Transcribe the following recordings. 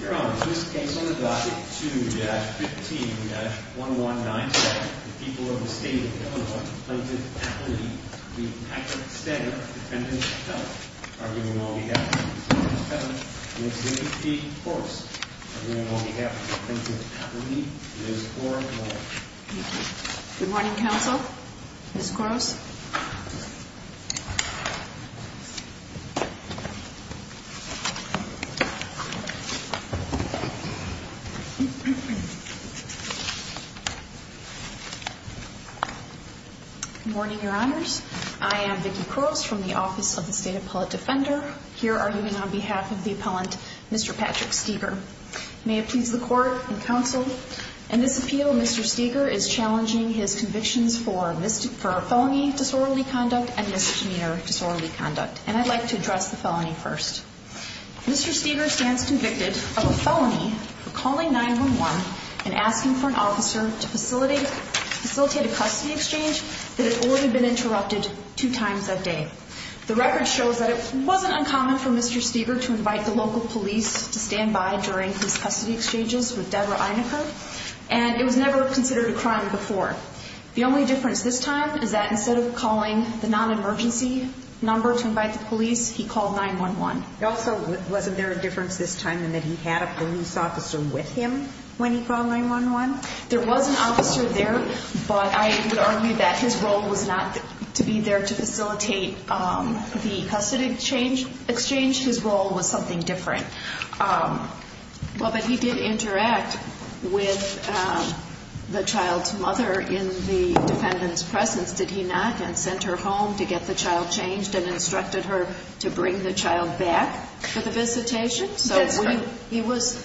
Your Honor, in this case on the docket 2-15-1197, the people of the state of Illinois, Plaintiff Appellee Lee Packard Steger, Defendant Kellogg, are given all behalf of Plaintiff Appellee Liz Koros. Good morning, Counsel. Ms. Koros. Good morning, Your Honors. I am Vicki Koros from the Office of the State Appellate Defender, here arguing on behalf of the appellant, Mr. Patrick Steger. May it please the Court and Counsel, in this appeal, Mr. Steger is challenging his convictions for felony disorderly conduct and misdemeanor disorderly conduct, and I'd like to address the felony first. Mr. Steger stands convicted of a felony for calling 911 and asking for an officer to facilitate a custody exchange that had already been interrupted two times that day. The record shows that it wasn't uncommon for Mr. Steger to invite the local police to stand by during his custody exchanges with Deborah Einicker, and it was never considered a crime before. The only difference this time is that instead of calling the non-emergency number to invite the police, he called 911. Also, wasn't there a difference this time in that he had a police officer with him when he called 911? There was an officer there, but I would argue that his role was not to be there to facilitate the custody exchange. His role was something different. Well, but he did interact with the child's mother in the defendant's presence, did he not, and sent her home to get the child changed and instructed her to bring the child back for the visitation? That's right. So he was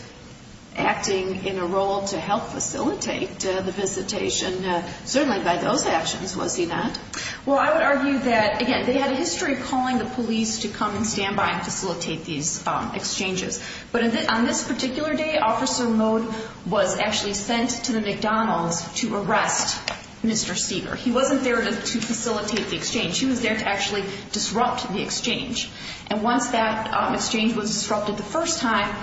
acting in a role to help facilitate the visitation, certainly by those actions, was he not? Well, I would argue that, again, they had a history of calling the police to come and stand by and facilitate these exchanges. But on this particular day, Officer Mode was actually sent to the McDonald's to arrest Mr. Steger. He wasn't there to facilitate the exchange. He was there to actually disrupt the exchange. And once that exchange was disrupted the first time,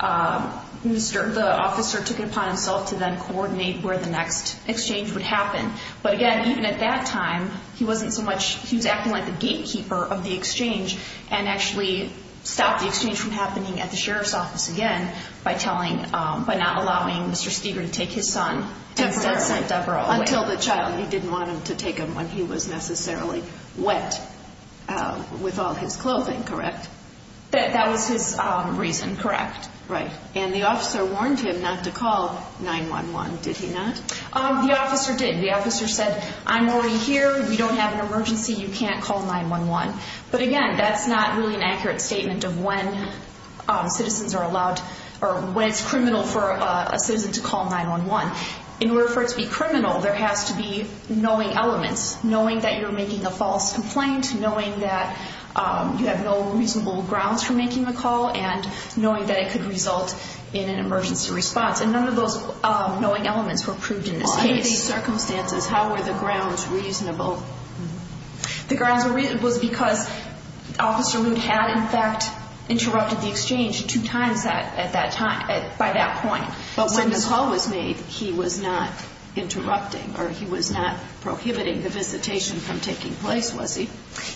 the officer took it upon himself to then coordinate where the next exchange would happen. But again, even at that time, he wasn't so much – he was acting like the gatekeeper of the exchange and actually stopped the exchange from happening at the sheriff's office again by telling – by not allowing Mr. Steger to take his son and sent Deborah away. Until the child. He didn't want him to take him when he was necessarily wet with all his clothing, correct? That was his reason, correct. Right. And the officer warned him not to call 911, did he not? The officer did. The officer said, I'm already here. We don't have an emergency. You can't call 911. But again, that's not really an accurate statement of when citizens are allowed – or when it's criminal for a citizen to call 911. In order for it to be criminal, there has to be knowing elements. Knowing that you're making a false complaint, knowing that you have no reasonable grounds for making the call, and knowing that it could result in an emergency response. And none of those knowing elements were proved in this case. Under these circumstances, how were the grounds reasonable? The grounds were reasonable because Officer Lute had, in fact, interrupted the exchange two times at that time – by that point. But when the call was made, he was not interrupting or he was not prohibiting the visitation from taking place, was he?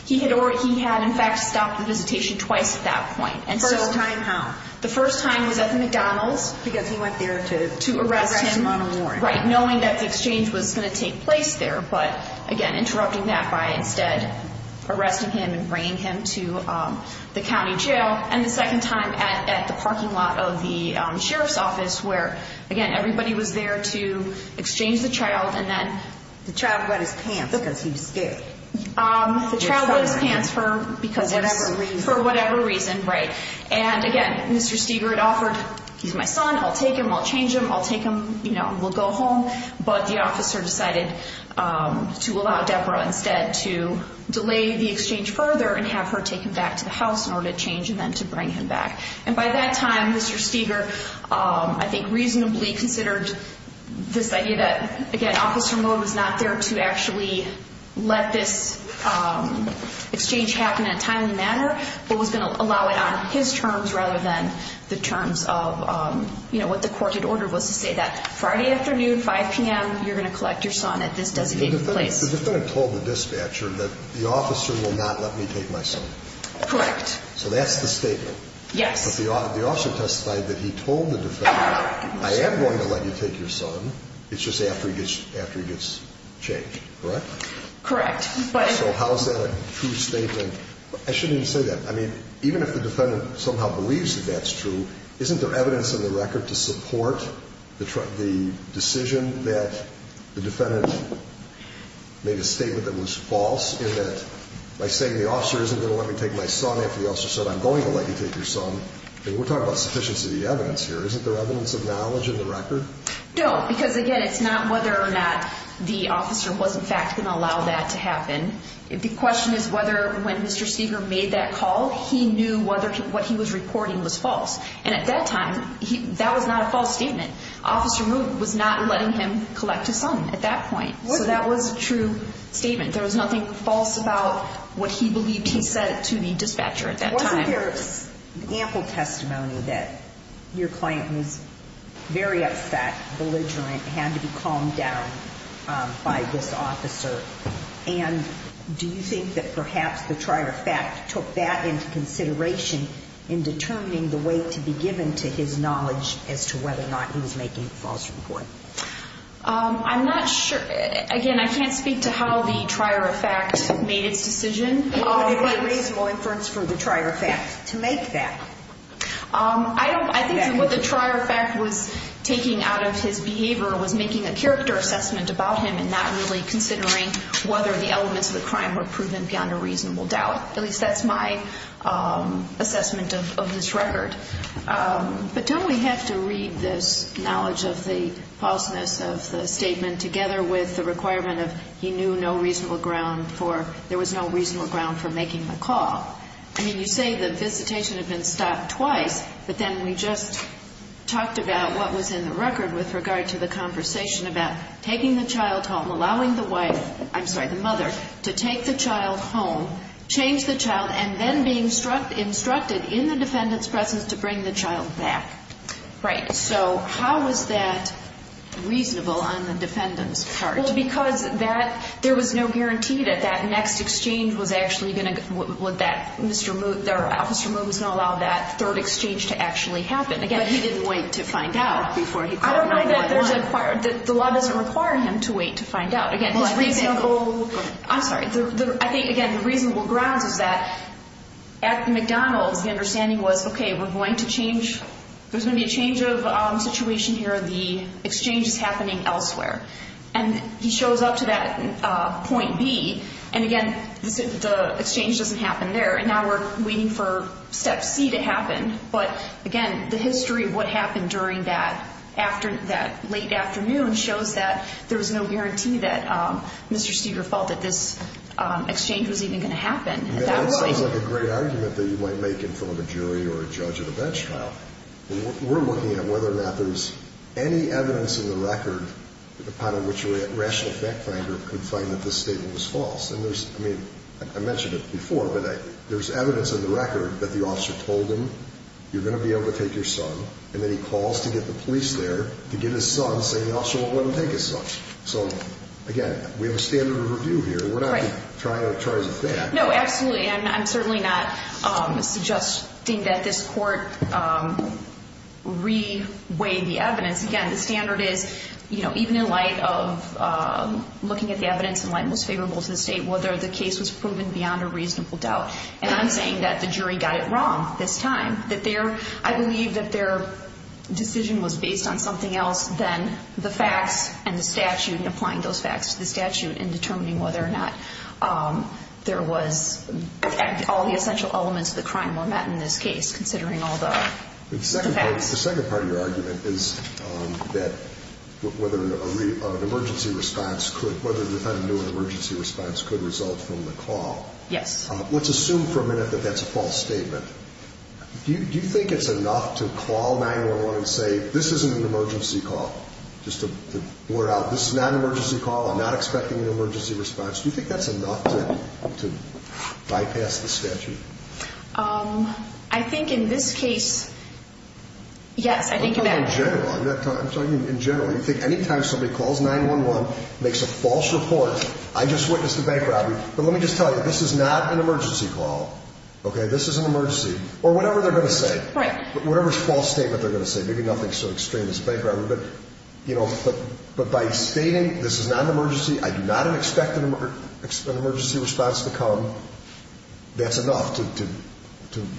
He had already – he had, in fact, stopped the visitation twice at that point. First time how? The first time was at the McDonald's. Because he went there to arrest him on a warrant. Right. Knowing that the exchange was going to take place there. But again, interrupting that by instead arresting him and bringing him to the county jail. And the second time at the parking lot of the sheriff's office where, again, everybody was there to exchange the child and then – The child got his pants because he was scared. The child got his pants for – For whatever reason. For whatever reason, right. And again, Mr. Steger had offered, he's my son, I'll take him, I'll change him, I'll take him, you know, we'll go home. But the officer decided to allow Deborah instead to delay the exchange further and have her take him back to the house in order to change and then to bring him back. And by that time, Mr. Steger, I think, reasonably considered this idea that, again, the officer mode was not there to actually let this exchange happen in a timely manner, but was going to allow it on his terms rather than the terms of, you know, what the court had ordered was to say that Friday afternoon, 5 p.m., you're going to collect your son at this designated place. The defendant told the dispatcher that the officer will not let me take my son. Correct. So that's the statement. Yes. The officer testified that he told the defendant, I am going to let you take your son. It's just after he gets changed, correct? Correct. So how is that a true statement? I shouldn't even say that. I mean, even if the defendant somehow believes that that's true, isn't there evidence in the record to support the decision that the defendant made a statement that was false in that by saying the officer isn't going to let me take my son after the officer said I'm going to let you take your son. We're talking about sufficiency of the evidence here. Isn't there evidence of knowledge in the record? No, because, again, it's not whether or not the officer was, in fact, going to allow that to happen. The question is whether when Mr. Steger made that call, he knew whether what he was reporting was false. And at that time, that was not a false statement. Officer mode was not letting him collect his son at that point. So that was a true statement. There was nothing false about what he believed he said to the dispatcher at that time. There is ample testimony that your client was very upset, belligerent, had to be calmed down by this officer. And do you think that perhaps the trier effect took that into consideration in determining the way to be given to his knowledge as to whether or not he was making a false report? I'm not sure. Again, I can't speak to how the trier effect made its decision. What would be a reasonable inference from the trier effect to make that? I think what the trier effect was taking out of his behavior was making a character assessment about him and not really considering whether the elements of the crime were proven beyond a reasonable doubt. At least that's my assessment of this record. But don't we have to read this knowledge of the falseness of the statement together with the requirement of he knew no reasonable ground for there was no reasonable ground for making the call? I mean, you say the visitation had been stopped twice, but then we just talked about what was in the record with regard to the conversation about taking the child home, allowing the wife I'm sorry, the mother, to take the child home, change the child, and then being instructed in the defendant's presence to bring the child back. Right. So how was that reasonable on the defendant's part? Well, because there was no guarantee that that next exchange was actually going to that Mr. Moot, that Officer Moot was going to allow that third exchange to actually happen. But he didn't wait to find out before he called 911. The law doesn't require him to wait to find out. Well, I think I'm sorry. I think, again, the reasonable grounds is that at McDonald's the understanding was, okay, we're going to change, there's going to be a change of situation here. The exchange is happening elsewhere. And he shows up to that point B, and again, the exchange doesn't happen there. And now we're waiting for step C to happen. But, again, the history of what happened during that late afternoon shows that there was no guarantee that Mr. Steger felt that this exchange was even going to happen. That sounds like a great argument that you might make in front of a jury or a judge at a bench trial. We're looking at whether or not there's any evidence in the record upon which a rational fact finder could find that this statement was false. And there's, I mean, I mentioned it before, but there's evidence in the record that the officer told him, you're going to be able to take your son, and then he calls to get the police there to get his son, saying the officer won't let him take his son. So, again, we have a standard of review here. Right. We're not trying to charge a fact. No, absolutely. And I'm certainly not suggesting that this court re-weigh the evidence. Again, the standard is, you know, even in light of looking at the evidence in light of what's favorable to the state, whether the case was proven beyond a reasonable doubt. And I'm saying that the jury got it wrong this time. I believe that their decision was based on something else than the facts and the statute and applying those facts to the statute and determining whether or not there was all the essential elements of the crime were met in this case, considering all the facts. The second part of your argument is that whether an emergency response could result from the call. Yes. Let's assume for a minute that that's a false statement. Do you think it's enough to call 911 and say, this isn't an emergency call, just to blurt out, this is not an emergency call, I'm not expecting an emergency response? Do you think that's enough to bypass the statute? I think in this case, yes. I think in that case. I'm talking in general. You think any time somebody calls 911, makes a false report, I just witnessed a bank robbery. But let me just tell you, this is not an emergency call, okay? This is an emergency. Or whatever they're going to say. Right. Whatever false statement they're going to say. Maybe nothing so extreme as a bank robbery. But by stating, this is not an emergency, I do not expect an emergency response to come, that's enough to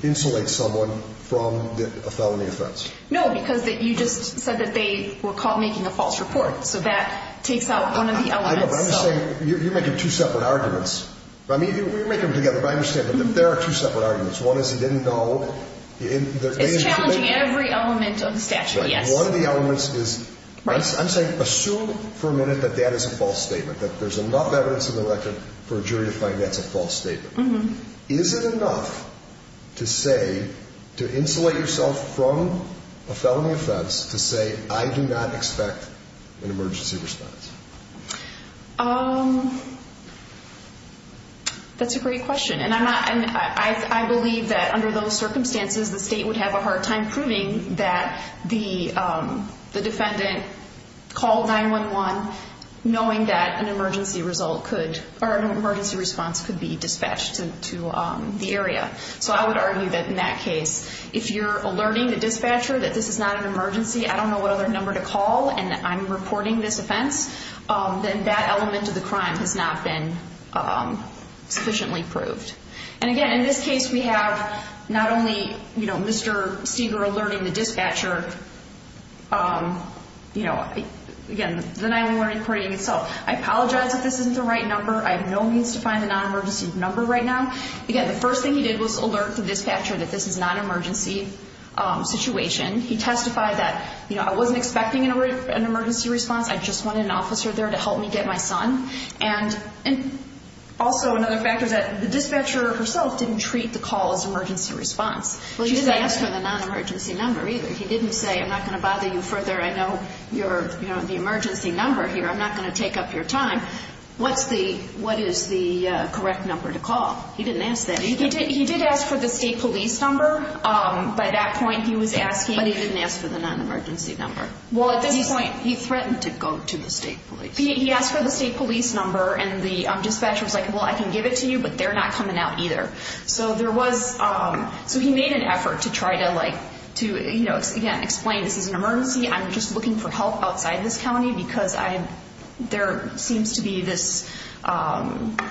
insulate someone from a felony offense. No, because you just said that they were caught making a false report. So that takes out one of the elements. You're making two separate arguments. You're making them together, but I understand. But there are two separate arguments. One is he didn't know. It's challenging every element of the statute, yes. One of the elements is, I'm saying assume for a minute that that is a false statement. That there's enough evidence in the record for a jury to find that's a false statement. Is it enough to say, to insulate yourself from a felony offense to say, I do not expect an emergency response? That's a great question. I believe that under those circumstances, the state would have a hard time proving that the defendant called 911, knowing that an emergency response could be dispatched to the area. So I would argue that in that case, if you're alerting the dispatcher that this is not an emergency, I don't know what other number to call, and I'm reporting this offense, then that element of the crime has not been sufficiently proved. And again, in this case, we have not only Mr. Seeger alerting the dispatcher, again, the 911 reporting itself. I apologize if this isn't the right number. I have no means to find a non-emergency number right now. Again, the first thing he did was alert the dispatcher that this is not an emergency situation. He testified that, I wasn't expecting an emergency response. I just wanted an officer there to help me get my son. And also another factor is that the dispatcher herself didn't treat the call as an emergency response. Well, he didn't ask for the non-emergency number either. He didn't say, I'm not going to bother you further. I know the emergency number here. I'm not going to take up your time. What is the correct number to call? He didn't ask that either. He did ask for the state police number. By that point, he was asking. But he didn't ask for the non-emergency number. Well, at this point, he threatened to go to the state police. He asked for the state police number. And the dispatcher was like, well, I can give it to you. But they're not coming out either. So there was – so he made an effort to try to, like, to, you know, again, explain this is an emergency. I'm just looking for help outside this county because I – there seems to be this –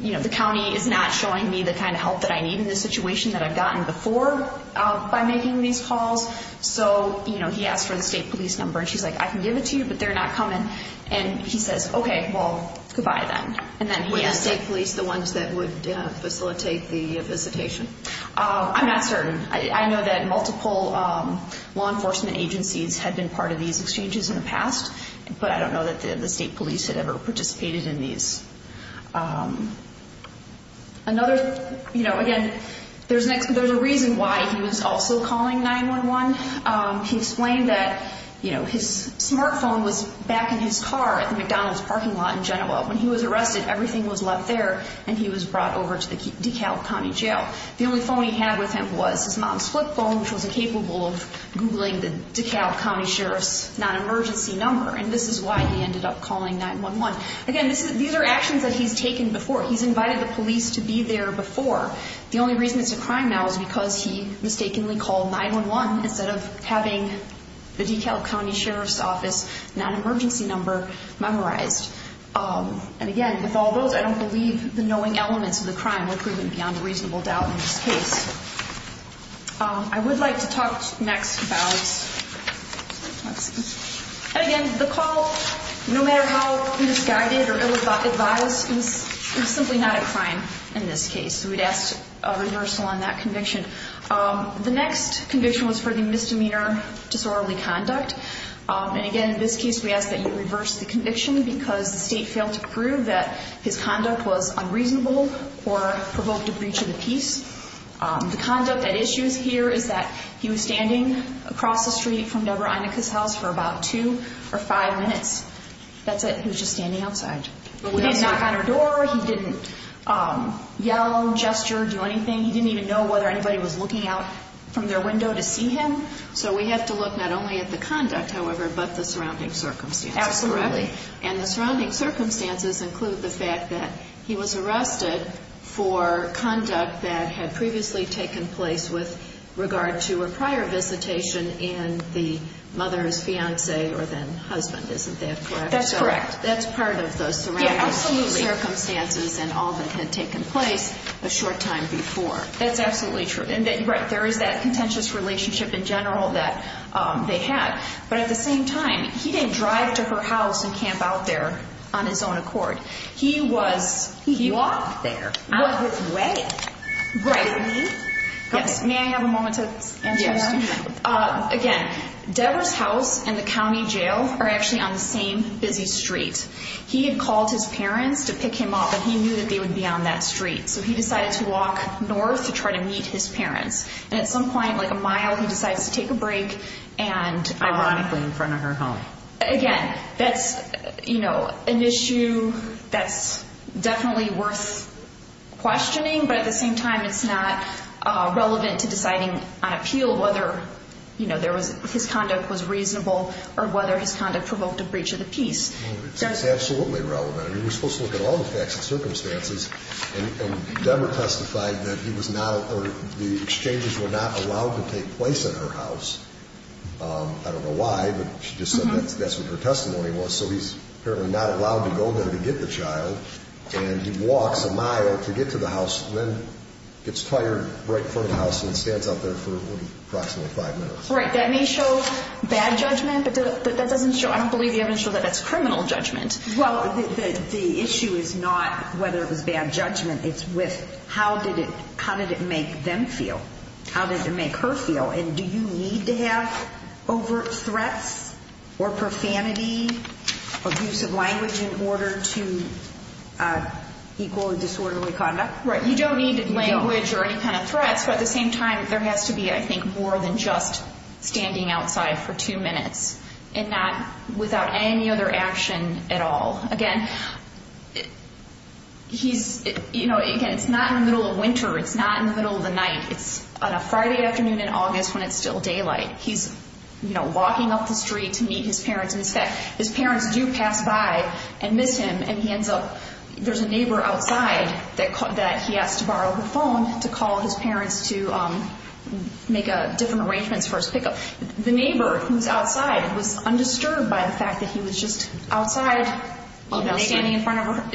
you know, the county is not showing me the kind of help that I need in this situation that I've gotten before by making these calls. So, you know, he asked for the state police number. And she's like, I can give it to you, but they're not coming. And he says, okay, well, goodbye then. And then he – Were the state police the ones that would facilitate the visitation? I'm not certain. I know that multiple law enforcement agencies had been part of these exchanges in the past. But I don't know that the state police had ever participated in these. Another – you know, again, there's a reason why he was also calling 911. He explained that, you know, his smartphone was back in his car at the McDonald's parking lot in Genoa. When he was arrested, everything was left there, and he was brought over to the DeKalb County Jail. The only phone he had with him was his non-split phone, which was incapable of Googling the DeKalb County Sheriff's non-emergency number. And this is why he ended up calling 911. Again, these are actions that he's taken before. He's invited the police to be there before. The only reason it's a crime now is because he mistakenly called 911 instead of having the DeKalb County Sheriff's Office non-emergency number memorized. And again, with all those, I don't believe the knowing elements of the crime were proven beyond a reasonable doubt in this case. I would like to talk next about – let's see. And again, the call, no matter how misguided or ill-advised, is simply not a crime in this case. So we'd ask a reversal on that conviction. The next conviction was for the misdemeanor disorderly conduct. And again, in this case, we ask that you reverse the conviction because the state failed to prove that his conduct was unreasonable or provoked a breach of the peace. He stayed from Deborah Inika's house for about two or five minutes. That's it. He was just standing outside. He didn't knock on her door. He didn't yell, gesture, do anything. He didn't even know whether anybody was looking out from their window to see him. So we have to look not only at the conduct, however, but the surrounding circumstances. Absolutely. And the surrounding circumstances include the fact that he was arrested for conduct that had previously taken place with regard to a prior visitation and the mother's fiancé or then husband. Isn't that correct? That's correct. That's part of the surrounding circumstances and all that had taken place a short time before. That's absolutely true. And there is that contentious relationship in general that they had. But at the same time, he didn't drive to her house and camp out there on his own accord. He walked there on his way to me. May I have a moment to answer that? Yes. Again, Deborah's house and the county jail are actually on the same busy street. He had called his parents to pick him up, and he knew that they would be on that street. So he decided to walk north to try to meet his parents. And at some point, like a mile, he decides to take a break. Ironically, in front of her home. Again, that's an issue that's definitely worth questioning. But at the same time, it's not relevant to deciding on appeal whether his conduct was reasonable or whether his conduct provoked a breach of the peace. It's absolutely relevant. You're supposed to look at all the facts and circumstances. And Deborah testified that the exchanges were not allowed to take place at her house. I don't know why, but she just said that's what her testimony was. So he's apparently not allowed to go there to get the child. And he walks a mile to get to the house and then gets fired right in front of the house and stands out there for approximately five minutes. Right. That may show bad judgment, but that doesn't show – I don't believe you haven't shown that that's criminal judgment. Well, the issue is not whether it was bad judgment. It's with how did it make them feel? How did it make her feel? And do you need to have overt threats or profanity, abusive language in order to equal disorderly conduct? Right. You don't need language or any kind of threats. But at the same time, there has to be, I think, more than just standing outside for two minutes and not without any other action at all. Again, he's – you know, again, it's not in the middle of winter. It's not in the middle of the night. It's on a Friday afternoon in August when it's still daylight. He's, you know, walking up the street to meet his parents. In fact, his parents do pass by and miss him. And he ends up – there's a neighbor outside that he has to borrow the phone to call his parents to make different arrangements for his pickup. The neighbor who's outside was undisturbed by the fact that he was just outside standing in front of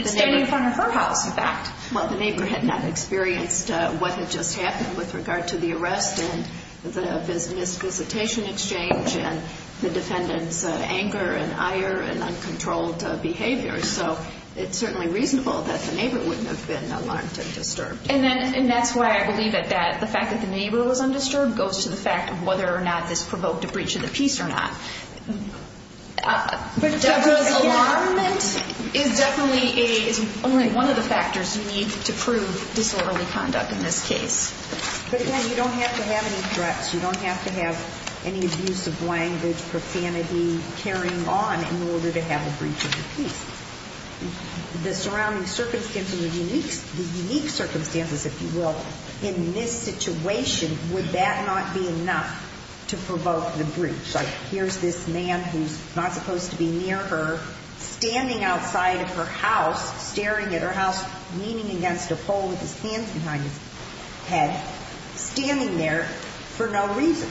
her house, in fact. Well, the neighbor had not experienced what had just happened with regard to the arrest and the misvisitation exchange and the defendant's anger and ire and uncontrolled behavior. So it's certainly reasonable that the neighbor wouldn't have been alarmed and disturbed. And that's why I believe that the fact that the neighbor was undisturbed goes to the fact of whether or not this provoked a breach of the peace or not. But does alarmment – is definitely a – is only one of the factors you need to prove disorderly conduct in this case. But again, you don't have to have any threats. You don't have to have any abuse of language, profanity, carrying on in order to have a breach of the peace. The surrounding circumstances, the unique circumstances, if you will, in this situation, would that not be enough to provoke the breach? Like here's this man who's not supposed to be near her, standing outside of her house, staring at her house, leaning against a pole with his hands behind his head, standing there for no reason.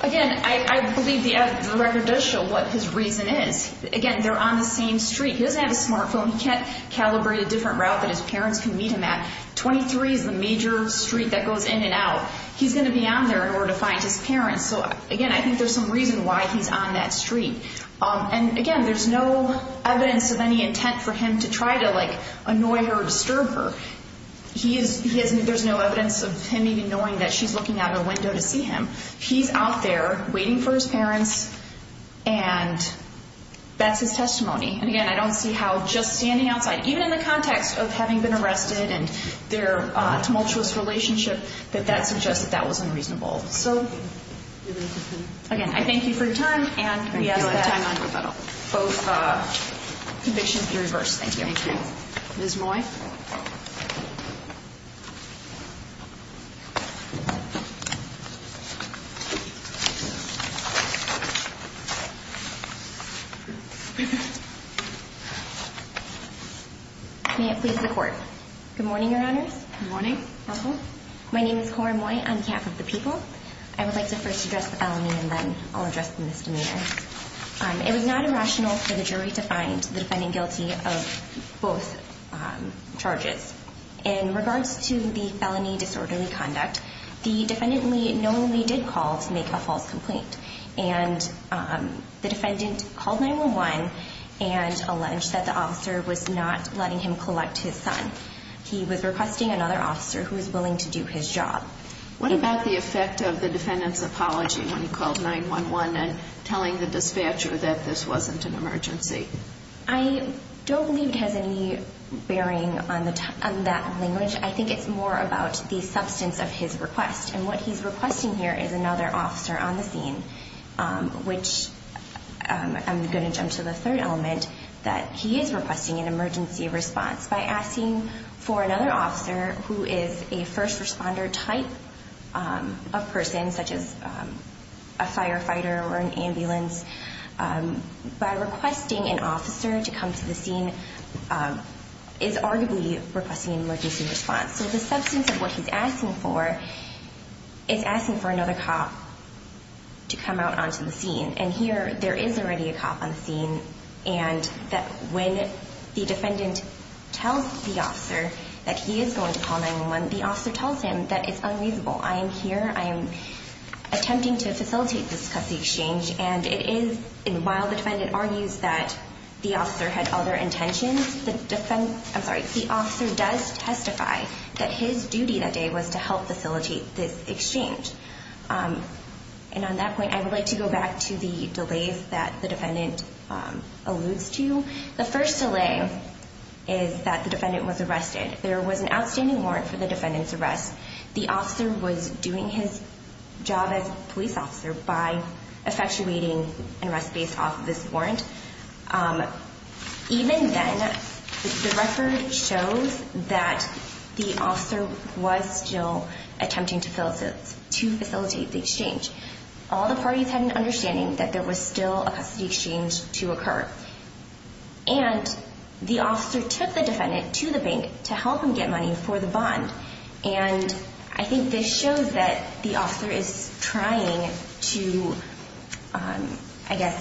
Again, I believe the record does show what his reason is. Again, they're on the same street. He doesn't have a smartphone. He can't calibrate a different route that his parents can meet him at. 23 is the major street that goes in and out. He's going to be on there in order to find his parents. So again, I think there's some reason why he's on that street. And again, there's no evidence of any intent for him to try to, like, annoy her or disturb her. He is – there's no evidence of him even knowing that she's looking out of a window to see him. He's out there waiting for his parents, and that's his testimony. And again, I don't see how just standing outside, even in the context of having been arrested and their tumultuous relationship, that that suggests that that was unreasonable. So again, I thank you for your time, and we ask that both convictions be reversed. Thank you. Ms. Moy. May it please the Court. Good morning, Your Honors. Good morning. My name is Cora Moy. I'm CAP of the People. I would like to first address the felony, and then I'll address the misdemeanor. It was not irrational for the jury to find the defendant guilty of both charges. In regards to the felony disorderly conduct, the defendant knowingly did call to make a false complaint. And the defendant called 911 and alleged that the officer was not letting him collect his son. He was requesting another officer who was willing to do his job. What about the effect of the defendant's apology when he called 911 and telling the dispatcher that this wasn't an emergency? I don't believe it has any bearing on that language. I think it's more about the substance of his request. And what he's requesting here is another officer on the scene, which I'm going to jump to the third element, that he is requesting an emergency response. By asking for another officer who is a first responder type of person, such as a firefighter or an ambulance, by requesting an officer to come to the scene is arguably requesting an emergency response. So the substance of what he's asking for is asking for another cop to come out onto the scene. And here, there is already a cop on the scene. And when the defendant tells the officer that he is going to call 911, the officer tells him that it's unreasonable. I am here. I am attempting to facilitate this custody exchange. And it is while the defendant argues that the officer had other intentions, the officer does testify that his duty that day was to help facilitate this exchange. And on that point, I would like to go back to the delays that the defendant alludes to. The first delay is that the defendant was arrested. There was an outstanding warrant for the defendant's arrest. The officer was doing his job as a police officer by effectuating an arrest based off of this warrant. Even then, the record shows that the officer was still attempting to facilitate the exchange. All the parties had an understanding that there was still a custody exchange to occur. And the officer took the defendant to the bank to help him get money for the bond. And I think this shows that the officer is trying to, I guess,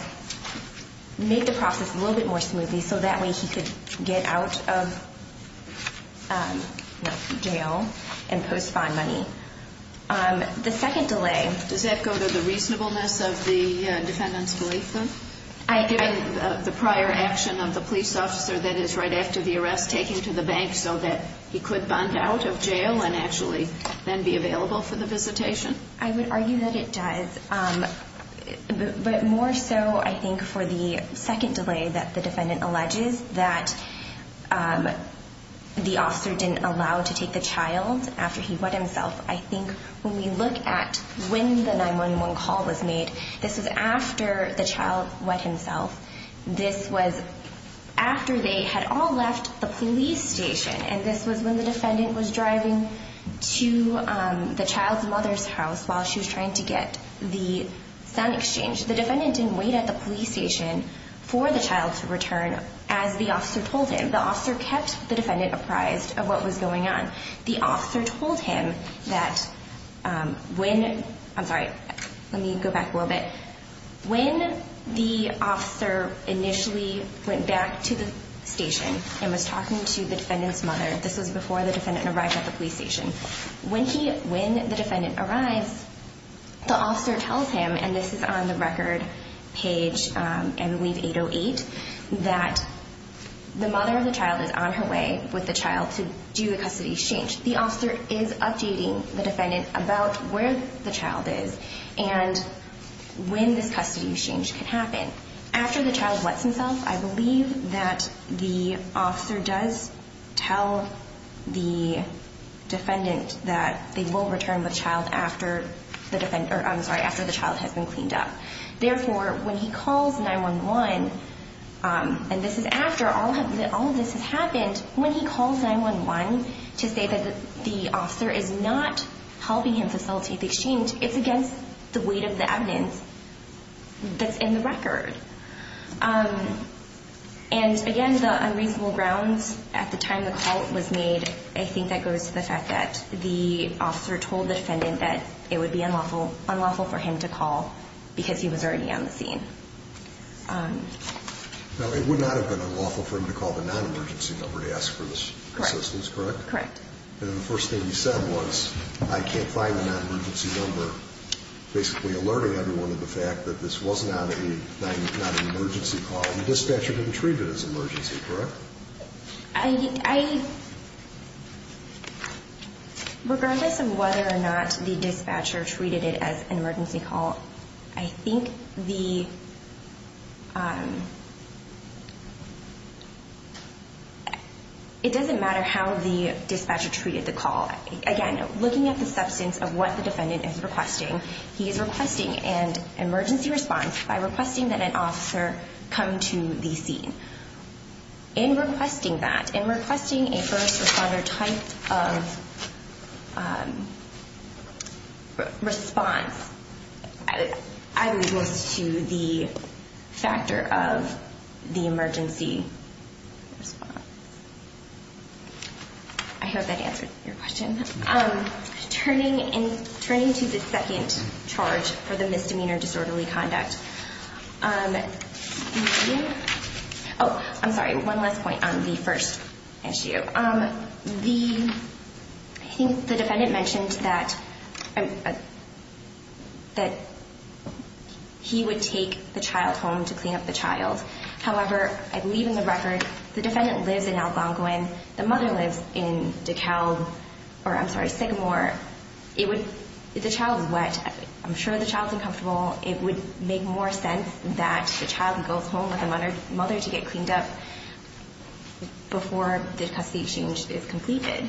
make the process a little bit more smoothly so that way he could get out of jail and post bond money. The second delay... Does that go to the reasonableness of the defendant's belief, then? Given the prior action of the police officer, that is, right after the arrest, taking him to the bank so that he could bond out of jail and actually then be available for the visitation? I would argue that it does. But more so, I think, for the second delay that the defendant alleges, that the officer didn't allow to take the child after he wet himself. I think when we look at when the 911 call was made, this was after the child wet himself. This was after they had all left the police station. And this was when the defendant was driving to the child's mother's house while she was trying to get the sound exchange. The defendant didn't wait at the police station for the child to return, as the officer told him. The officer kept the defendant apprised of what was going on. The officer told him that when... I'm sorry. Let me go back a little bit. When the officer initially went back to the station and was talking to the defendant's mother, this was before the defendant arrived at the police station, when the defendant arrives, the officer tells him, and this is on the record page, I believe 808, that the mother of the child is on her way with the child to do the custody exchange. The officer is updating the defendant about where the child is and when this custody exchange could happen. After the child wets himself, I believe that the officer does tell the defendant that they will return with the child after the child has been cleaned up. Therefore, when he calls 911, and this is after all of this has happened, when he calls 911 to say that the officer is not helping him facilitate the exchange, it's against the weight of the evidence that's in the record. And again, the unreasonable grounds at the time the call was made, I think that goes to the fact that the officer told the defendant that it would be unlawful for him to call because he was already on the scene. Now, it would not have been unlawful for him to call the non-emergency number to ask for assistance, correct? Correct. And the first thing you said was, I can't find the non-emergency number, basically alerting everyone to the fact that this was not an emergency call, and the dispatcher didn't treat it as an emergency, correct? Regardless of whether or not the dispatcher treated it as an emergency call, I think it doesn't matter how the dispatcher treated the call. Again, looking at the substance of what the defendant is requesting, he is requesting an emergency response by requesting that an officer come to the scene. In requesting that, in requesting a first responder type of response, I would list to the factor of the emergency response. I hope that answered your question. Turning to the second charge for the misdemeanor disorderly conduct, I'm sorry, one last point on the first issue. I think the defendant mentioned that he would take the child home to clean up the child. However, I believe in the record, the defendant lives in Algonquin. When the mother lives in DeKalb, or I'm sorry, Sycamore, if the child is wet, I'm sure the child is uncomfortable. It would make more sense that the child goes home with the mother to get cleaned up before the custody exchange is completed.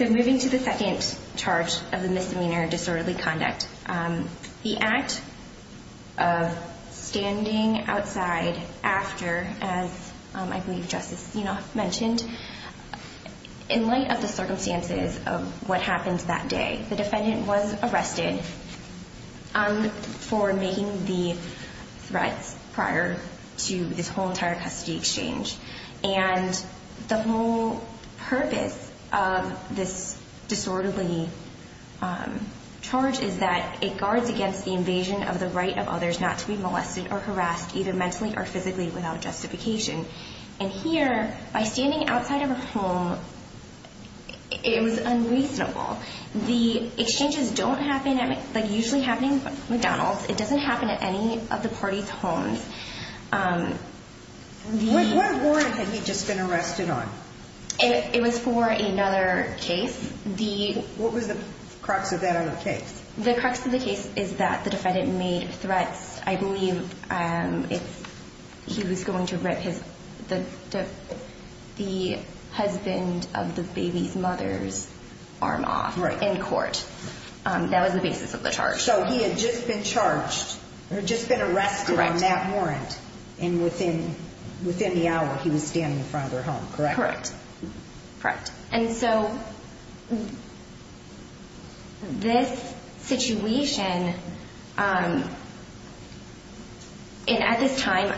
Moving to the second charge of the misdemeanor disorderly conduct, the act of standing outside after, as I believe Justice Zinoff mentioned, in light of the circumstances of what happened that day, the defendant was arrested for making the threats prior to this whole entire custody exchange. The whole purpose of this disorderly charge is that it guards against the invasion of the right of others not to be molested or harassed, either mentally or physically, without justification. Here, by standing outside of a home, it was unreasonable. The exchanges don't usually happen at McDonald's. It doesn't happen at any of the parties' homes. What warrant had he just been arrested on? It was for another case. What was the crux of that other case? The crux of the case is that the defendant made threats. I believe he was going to rip the husband of the baby's mother's arm off in court. That was the basis of the charge. So he had just been charged or just been arrested on that warrant, and within the hour, he was standing in front of their home, correct? Correct. And so this situation, and at this time,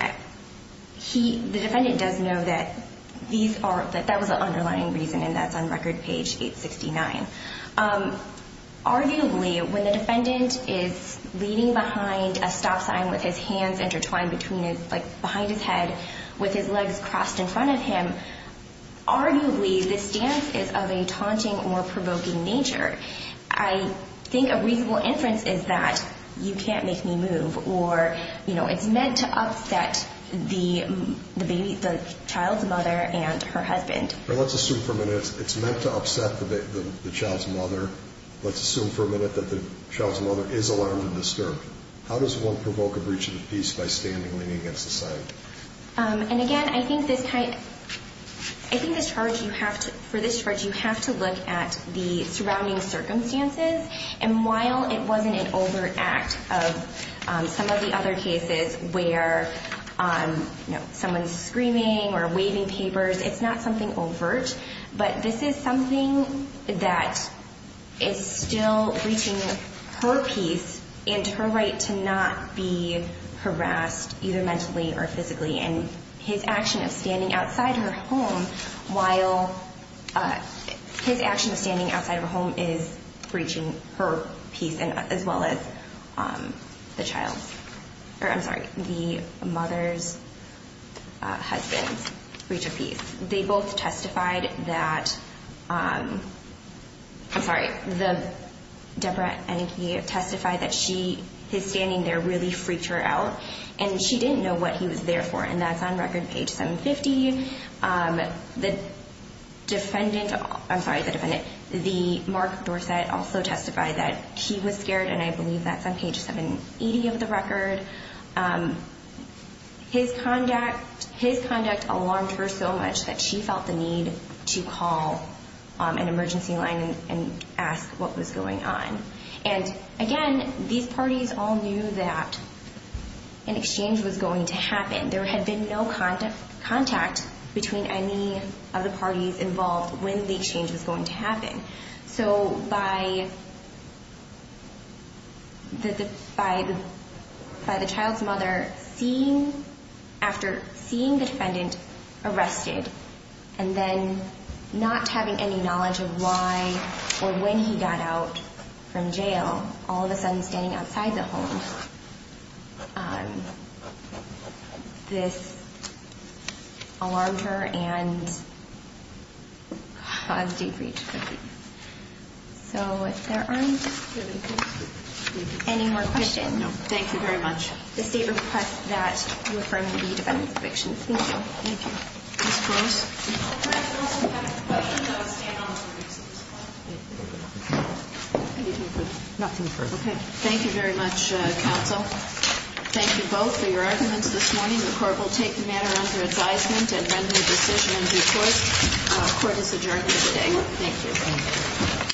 the defendant does know that that was an underlying reason, and that's on Record Page 869. Arguably, when the defendant is leaving behind a stop sign with his hands intertwined behind his head with his legs crossed in front of him, arguably this stance is of a taunting or provoking nature. I think a reasonable inference is that you can't make me move, or it's meant to upset the child's mother and her husband. Let's assume for a minute it's meant to upset the child's mother. Let's assume for a minute that the child's mother is alarmed and disturbed. How does one provoke a breach of peace by standing leaning against the sign? Again, I think for this charge you have to look at the surrounding circumstances, and while it wasn't an overt act of some of the other cases where someone's screaming or waving papers, it's not something overt, but this is something that is still breaching her peace and her right to not be harassed either mentally or physically. And his action of standing outside her home is breaching her peace, they both testified that, I'm sorry, Debra and he testified that his standing there really freaked her out, and she didn't know what he was there for, and that's on record page 750. The defendant, I'm sorry, the defendant, the Mark Dorsett also testified that he was scared, and I believe that's on page 780 of the record. His conduct alarmed her so much that she felt the need to call an emergency line and ask what was going on. And again, these parties all knew that an exchange was going to happen. There had been no contact between any of the parties involved when the exchange was going to happen. So by the child's mother seeing, after seeing the defendant arrested, and then not having any knowledge of why or when he got out from jail, all of a sudden standing outside the home, this alarmed her and caused deep breach of peace. So if there aren't any more questions. Thank you very much. The state requests that you refer him to the defendant's convictions. Thank you. Thank you. Ms. Gross? Nothing further. Okay. Thank you very much, counsel. Thank you both for your arguments this morning. The Court will take the matter under advisement and render a decision in due course. Thank you. Thank you.